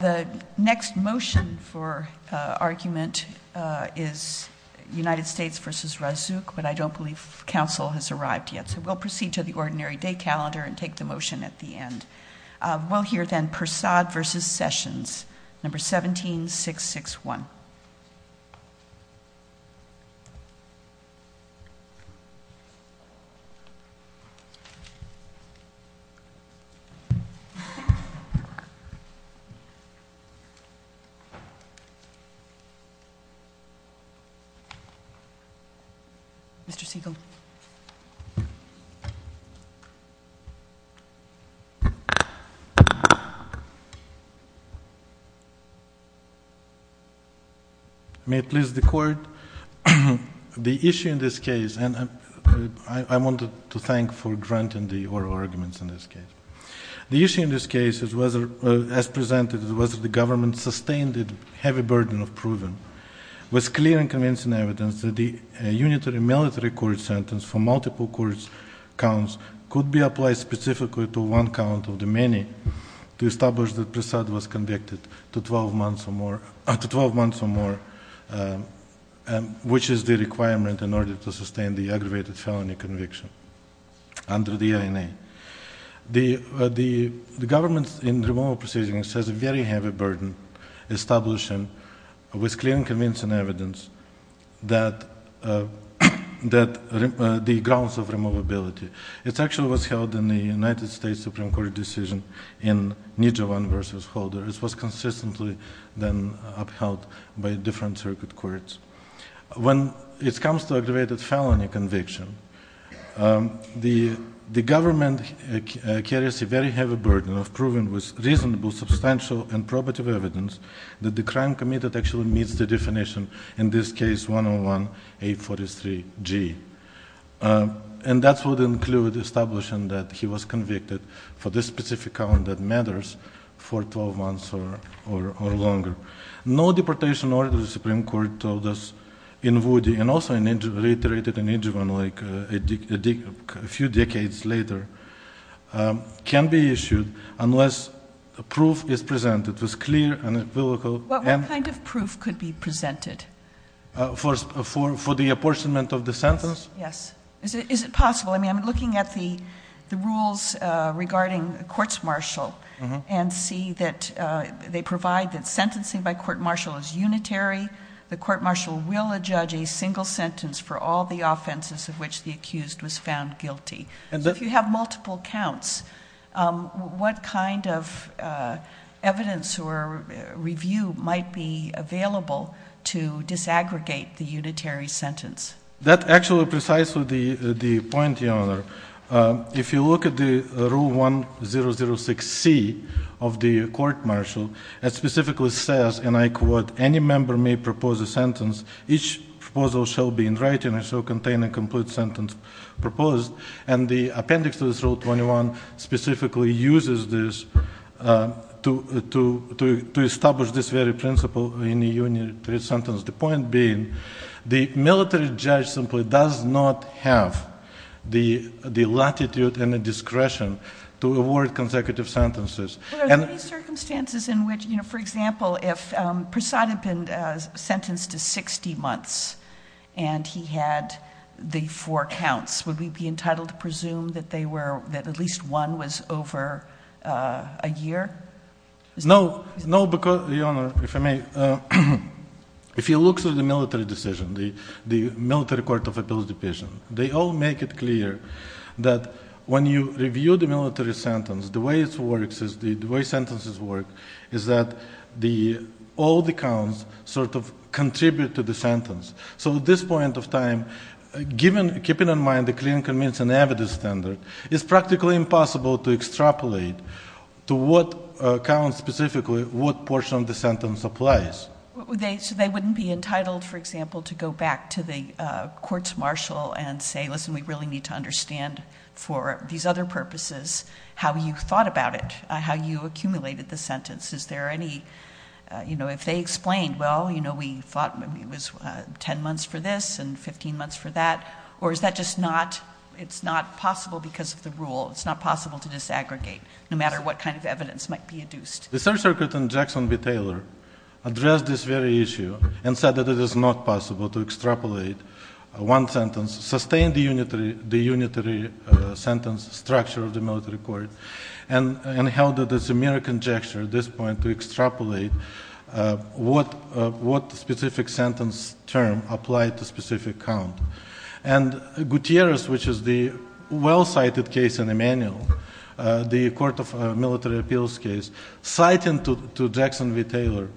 The next motion for argument is United States v. Razouk, but I don't believe council has arrived yet, so we'll proceed to the ordinary day calendar and take the motion at the end. We'll hear then Persad v. Sessions, No. 17661. Mr. Siegel. May it please the court. The issue in this case, and I wanted to thank for granting the oral arguments in this case. The issue in this case, as presented, is whether the government sustained the heavy burden of proving with clear and convincing evidence that the unitary military court sentence for multiple court counts could be applied specifically to one count of the many to establish that Persad was convicted to 12 months or more, which is the requirement in order to sustain the aggravated felony conviction under the INA. The government in removal proceedings has a very heavy burden establishing with clear and convincing evidence that the grounds of removability. It actually was held in the United States Supreme Court decision in Nijovan v. Holder. It was consistently then upheld by different circuit courts. When it comes to aggravated felony conviction, the government carries a very heavy burden of proving with reasonable, substantial, and probative evidence that the crime committed actually meets the definition in this case 101-843-G. And that would include establishing that he was convicted for this specific count that matters for 12 months or longer. No deportation order, the Supreme Court told us in Woody and also reiterated in Nijovan a few decades later, can be issued unless proof is presented with clear and empirical evidence. What kind of proof could be presented? For the apportionment of the sentence? Yes. Is it possible? I mean, I'm looking at the rules regarding courts-martial and see that they provide that sentencing by court-martial is unitary. The court-martial will adjudge a single sentence for all the offenses of which the accused was found guilty. If you have multiple counts, what kind of evidence or review might be available to disaggregate the unitary sentence? That's actually precisely the point, Your Honor. If you look at the Rule 1006C of the court-martial, it specifically says, and I quote, Any member may propose a sentence. Each proposal shall be in writing and shall contain a complete sentence proposed. And the appendix to this Rule 21 specifically uses this to establish this very principle in the unitary sentence. The point being the military judge simply does not have the latitude and the discretion to award consecutive sentences. Are there any circumstances in which, for example, if Prasad had been sentenced to 60 months and he had the four counts, would we be entitled to presume that at least one was over a year? No, because, Your Honor, if I may, if you look through the military decision, the military court of appeals division, they all make it clear that when you review the military sentence, the way sentences work is that all the counts sort of contribute to the sentence. So at this point of time, keeping in mind the clinical means and evidence standard, it's practically impossible to extrapolate to what counts specifically what portion of the sentence applies. So they wouldn't be entitled, for example, to go back to the courts-martial and say, Listen, we really need to understand for these other purposes how you thought about it, how you accumulated the sentence. Is there any, you know, if they explained, well, you know, we thought it was 10 months for this and 15 months for that, or is that just not, it's not possible because of the rule? It's not possible to disaggregate no matter what kind of evidence might be adduced. The Third Circuit in Jackson v. Taylor addressed this very issue and said that it is not possible to extrapolate one sentence, sustain the unitary sentence structure of the military court, and held that it's a mere conjecture at this point to extrapolate what specific sentence term applied to specific count. And Gutierrez, which is the well-cited case in the manual, the court of military appeals case, citing to Jackson v. Taylor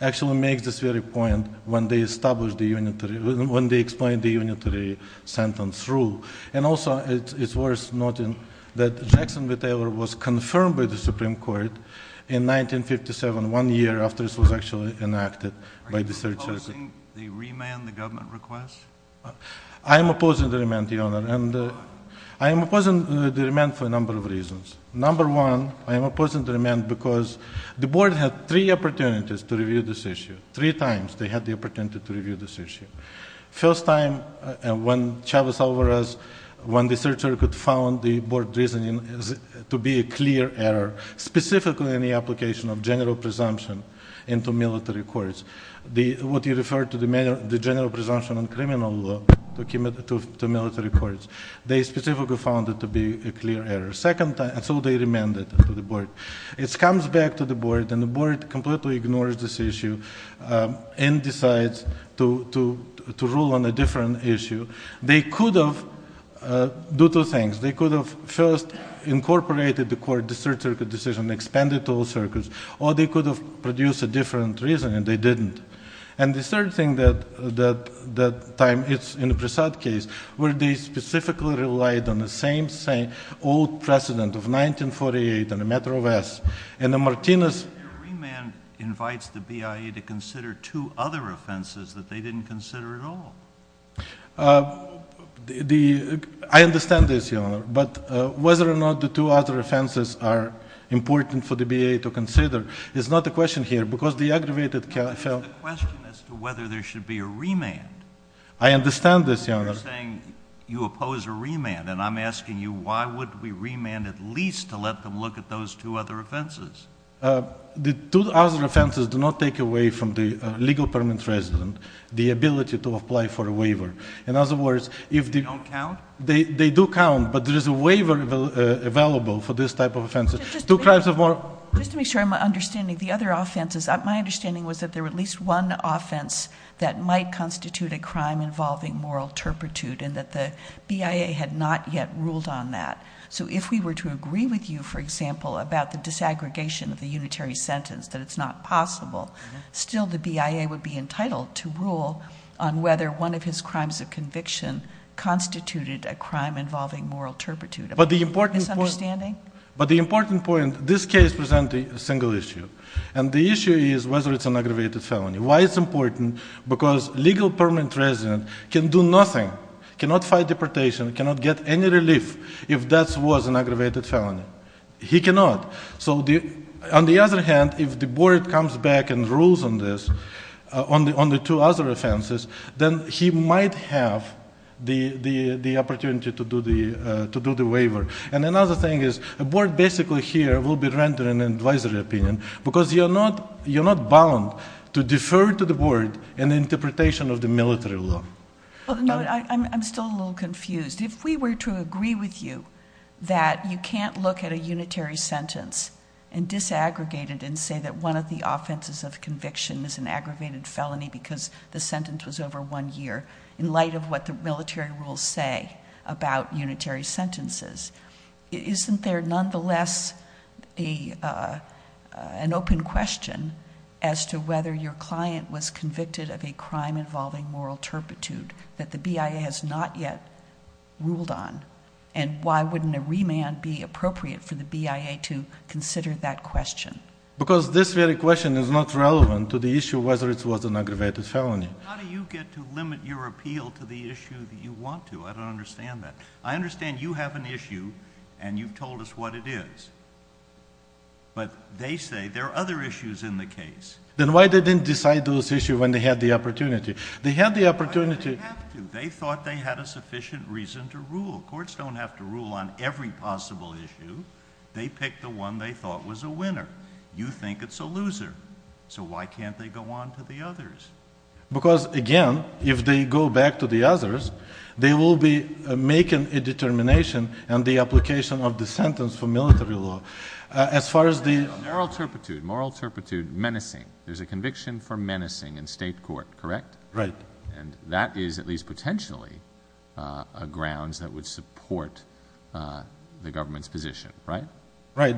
actually makes this very point when they establish the unitary, when they explain the unitary sentence rule. And also it's worth noting that Jackson v. Taylor was confirmed by the Supreme Court in 1957, one year after this was actually enacted by the Third Circuit. Are you opposing the remand, the government request? I am opposing the remand, Your Honor, and I am opposing the remand for a number of reasons. Number one, I am opposing the remand because the board had three opportunities to review this issue. Three times they had the opportunity to review this issue. First time when Chavez-Alvarez, when the Third Circuit found the board reasoning to be a clear error, specifically in the application of general presumption into military courts, what you refer to the general presumption on criminal law to military courts, they specifically found it to be a clear error. Second time, so they remanded to the board. It comes back to the board, and the board completely ignores this issue and decides to rule on a different issue. They could have done two things. They could have first incorporated the court, the Third Circuit decision, expanded to all circuits, or they could have produced a different reasoning, and they didn't. And the third thing that time, it's in the Prasad case, where they specifically relied on the same old precedent of 1948 and the matter of S. And the Martinez ---- Your remand invites the BIA to consider two other offenses that they didn't consider at all. I understand this, Your Honor. But whether or not the two other offenses are important for the BIA to consider is not the question here because the aggravated ---- It's the question as to whether there should be a remand. I understand this, Your Honor. But you're saying you oppose a remand, and I'm asking you, why wouldn't we remand at least to let them look at those two other offenses? The two other offenses do not take away from the legal permit resident the ability to apply for a waiver. In other words, if the ---- They don't count? They do count, but there is a waiver available for this type of offense. Two crimes of more ---- Just to make sure I'm understanding, the other offenses, my understanding was that there were at least one offense that might constitute a crime involving moral turpitude, and that the BIA had not yet ruled on that. So if we were to agree with you, for example, about the disaggregation of the unitary sentence, that it's not possible, still the BIA would be entitled to rule on whether one of his crimes of conviction constituted a crime involving moral turpitude. But the important point ---- Is this understanding? But the important point, this case presented a single issue. And the issue is whether it's an aggravated felony. Why it's important, because legal permit resident can do nothing, cannot fight deportation, cannot get any relief if that was an aggravated felony. He cannot. So on the other hand, if the board comes back and rules on this, on the two other offenses, then he might have the opportunity to do the waiver. And another thing is the board basically here will be rendering an advisory opinion, because you're not bound to defer to the board an interpretation of the military law. I'm still a little confused. If we were to agree with you that you can't look at a unitary sentence and disaggregate it and say that one of the offenses of conviction is an aggravated felony because the sentence was over one year, in light of what the military rules say about unitary sentences, isn't there nonetheless an open question as to whether your client was convicted of a crime involving moral turpitude that the BIA has not yet ruled on? And why wouldn't a remand be appropriate for the BIA to consider that question? Because this very question is not relevant to the issue of whether it was an aggravated felony. How do you get to limit your appeal to the issue that you want to? I don't understand that. I understand you have an issue, and you've told us what it is. But they say there are other issues in the case. Then why didn't they decide those issues when they had the opportunity? They had the opportunity. They thought they had a sufficient reason to rule. Courts don't have to rule on every possible issue. They pick the one they thought was a winner. You think it's a loser. So why can't they go on to the others? Because, again, if they go back to the others, they will be making a determination on the application of the sentence for military law. Moral turpitude, moral turpitude, menacing. There's a conviction for menacing in state court, correct? Right. And that is at least potentially a grounds that would support the government's position, right? Right.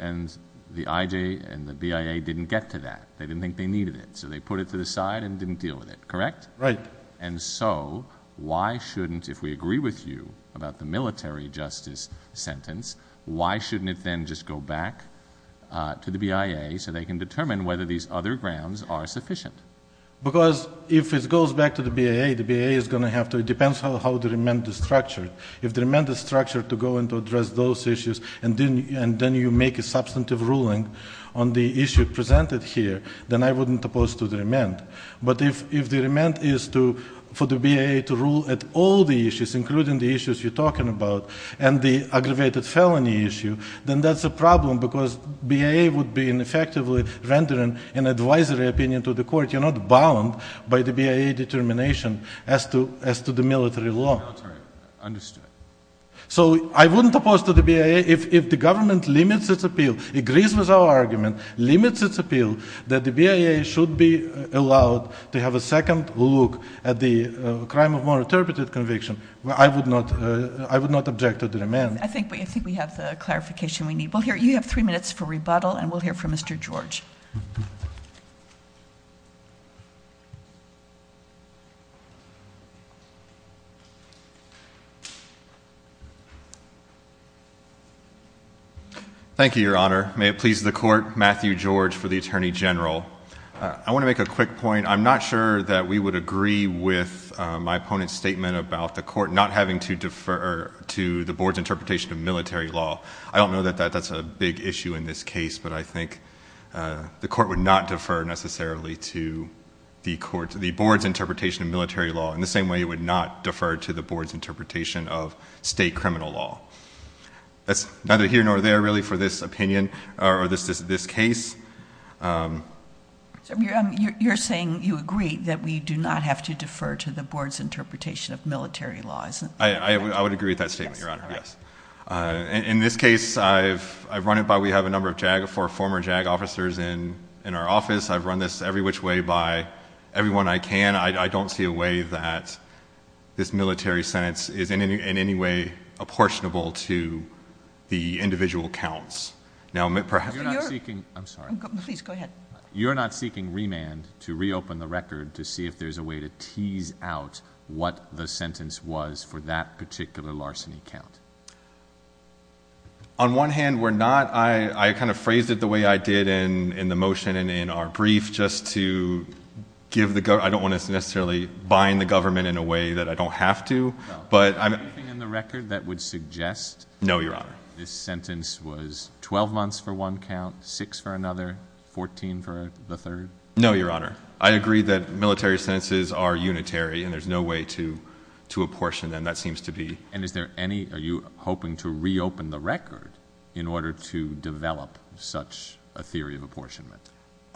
And the IJ and the BIA didn't get to that. They didn't think they needed it. So they put it to the side and didn't deal with it, correct? Right. And so why shouldn't, if we agree with you about the military justice sentence, why shouldn't it then just go back to the BIA so they can determine whether these other grounds are sufficient? Because if it goes back to the BIA, the BIA is going to have to, it depends how they amend the structure. If they amend the structure to go and address those issues and then you make a substantive ruling on the issue presented here, then I wouldn't oppose to the amend. But if the amend is for the BIA to rule at all the issues, including the issues you're talking about, and the aggravated felony issue, then that's a problem because BIA would be in effectively rendering an advisory opinion to the court. You're not bound by the BIA determination as to the military law. Understood. So I wouldn't oppose to the BIA if the government limits its appeal, agrees with our argument, limits its appeal that the BIA should be allowed to have a second look at the crime of non-interpreted conviction. I would not object to the amend. I think we have the clarification we need. You have three minutes for rebuttal, and we'll hear from Mr. George. Thank you, Your Honor. May it please the Court, Matthew George for the Attorney General. I want to make a quick point. I'm not sure that we would agree with my opponent's statement about the court not having to defer to the board's interpretation of military law. I don't know that that's a big issue in this case, but I think the court would not defer necessarily to the board's interpretation of military law, in the same way it would not defer to the board's interpretation of state criminal law. That's neither here nor there, really, for this opinion or this case. You're saying you agree that we do not have to defer to the board's interpretation of military law. I would agree with that statement, Your Honor, yes. In this case, I've run it by we have a number of former JAG officers in our office. I've run this every which way by everyone I can. I don't see a way that this military sentence is in any way apportionable to the individual counts. Now, perhaps— You're not seeking—I'm sorry. Please, go ahead. You're not seeking remand to reopen the record to see if there's a way to tease out what the sentence was for that particular larceny count. On one hand, we're not. I kind of phrased it the way I did in the motion and in our brief just to give the— I don't want to necessarily bind the government in a way that I don't have to, but— Is there anything in the record that would suggest— No, Your Honor. —this sentence was 12 months for one count, 6 for another, 14 for the third? No, Your Honor. I agree that military sentences are unitary, and there's no way to apportion them. That seems to be— And is there any—are you hoping to reopen the record in order to develop such a theory of apportionment?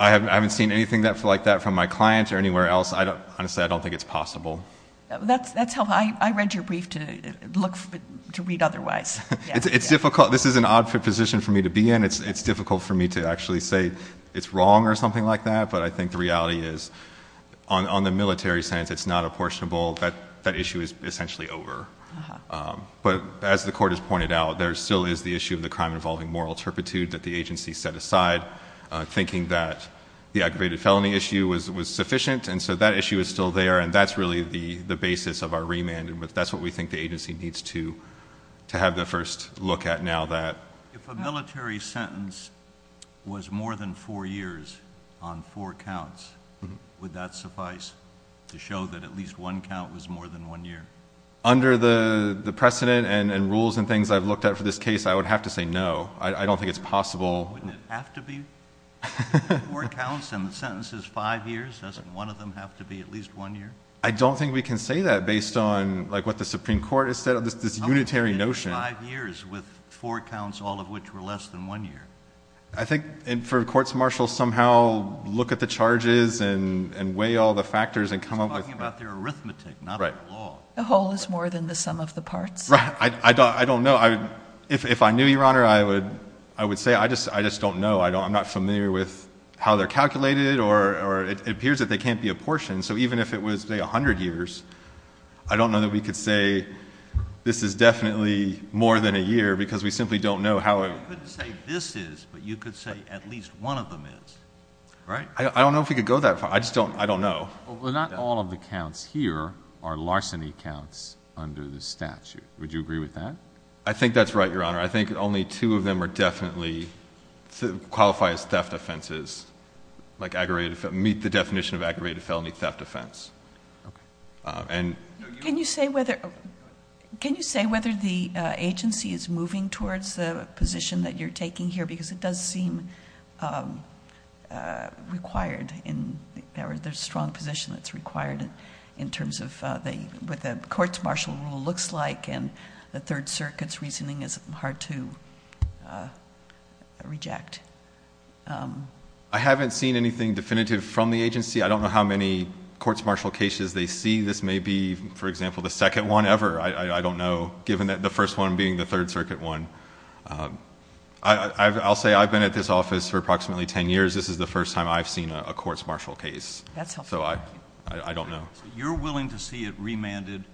I haven't seen anything like that from my client or anywhere else. Honestly, I don't think it's possible. That's helpful. I read your brief to look—to read otherwise. It's difficult. This is an odd position for me to be in. It's difficult for me to actually say it's wrong or something like that, but I think the reality is, on the military sentence, it's not apportionable. That issue is essentially over. But as the Court has pointed out, there still is the issue of the crime involving moral turpitude that the agency set aside, thinking that the aggravated felony issue was sufficient, and so that issue is still there, and that's really the basis of our remand, and that's what we think the agency needs to have the first look at now that— If a military sentence was more than four years on four counts, would that suffice to show that at least one count was more than one year? Under the precedent and rules and things I've looked at for this case, I would have to say no. I don't think it's possible. Wouldn't it have to be four counts and the sentence is five years? Doesn't one of them have to be at least one year? I don't think we can say that based on, like, what the Supreme Court has said, this unitary notion. How could it be five years with four counts, all of which were less than one year? I think for courts martial, somehow look at the charges and weigh all the factors and come up with— He's talking about their arithmetic, not the law. The whole is more than the sum of the parts. I don't know. If I knew, Your Honor, I would say I just don't know. I'm not familiar with how they're calculated or it appears that they can't be apportioned. So even if it was, say, 100 years, I don't know that we could say this is definitely more than a year because we simply don't know how it— You couldn't say this is, but you could say at least one of them is, right? I don't know if we could go that far. I just don't know. Well, not all of the counts here are larceny counts under the statute. Would you agree with that? I think that's right, Your Honor. I think only two of them are definitely—qualify as theft offenses, like aggravated— meet the definition of aggravated felony theft offense. Okay. Can you say whether the agency is moving towards the position that you're taking here because it does seem required in— The Third Circuit's reasoning is hard to reject. I haven't seen anything definitive from the agency. I don't know how many courts martial cases they see. This may be, for example, the second one ever. I don't know, given that the first one being the Third Circuit one. I'll say I've been at this office for approximately 10 years. This is the first time I've seen a courts martial case. That's helpful. So I don't know. So you're willing to see it remanded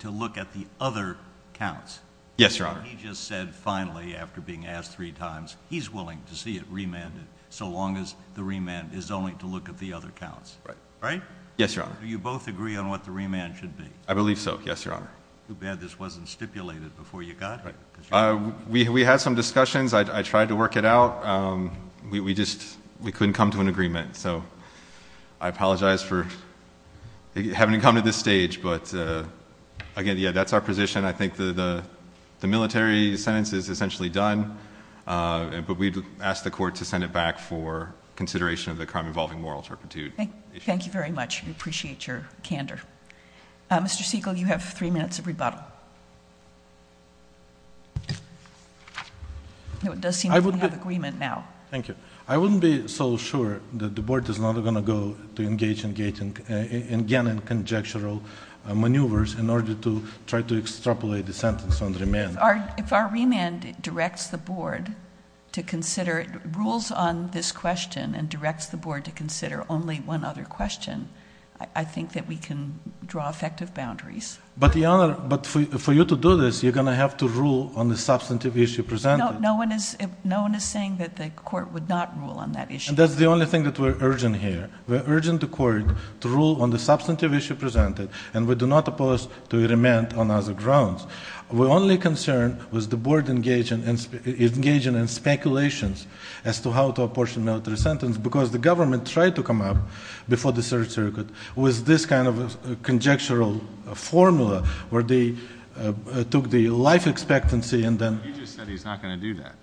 to look at the other counts? Yes, Your Honor. He just said finally, after being asked three times, he's willing to see it remanded so long as the remand is only to look at the other counts, right? Yes, Your Honor. Do you both agree on what the remand should be? I believe so, yes, Your Honor. Too bad this wasn't stipulated before you got here. We had some discussions. I tried to work it out. We just couldn't come to an agreement. So I apologize for having to come to this stage. But, again, yeah, that's our position. I think the military sentence is essentially done. But we'd ask the court to send it back for consideration of the crime involving moral turpitude. Thank you very much. We appreciate your candor. Mr. Siegel, you have three minutes of rebuttal. It does seem that we have agreement now. Thank you. I wouldn't be so sure that the board is not going to go to engage again in conjectural maneuvers in order to try to extrapolate the sentence on remand. If our remand directs the board to consider rules on this question and directs the board to consider only one other question, I think that we can draw effective boundaries. But, Your Honor, for you to do this, you're going to have to rule on the substantive issue presented. No one is saying that the court would not rule on that issue. That's the only thing that we're urging here. We're urging the court to rule on the substantive issue presented, and we do not oppose to remand on other grounds. We're only concerned with the board engaging in speculations as to how to apportion military sentence because the government tried to come up before the Third Circuit with this kind of conjectural formula where they took the life expectancy and then He just said he's not going to do that.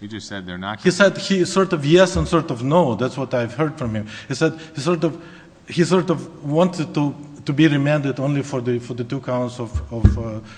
He just said they're not going to do that. He said he sort of yes and sort of no. That's what I've heard from him. He said he sort of wanted to be remanded only for the two counts of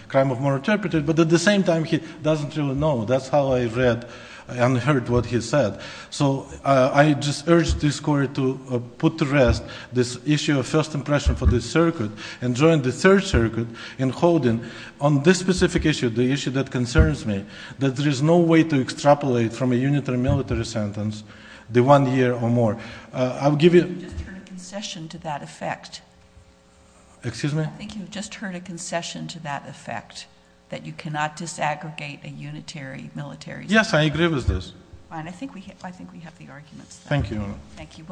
crime of moral interpretation, but at the same time he doesn't really know. That's how I read and heard what he said. So I just urge this court to put to rest this issue of first impression for this circuit and join the Third Circuit in holding on this specific issue, the issue that concerns me, that there is no way to extrapolate from a unitary military sentence the one year or more. I'll give you— I think you've just heard a concession to that effect. Excuse me? I think you've just heard a concession to that effect, that you cannot disaggregate a unitary military sentence. Yes, I agree with this. Fine. I think we have the arguments. Thank you, Your Honor. Thank you.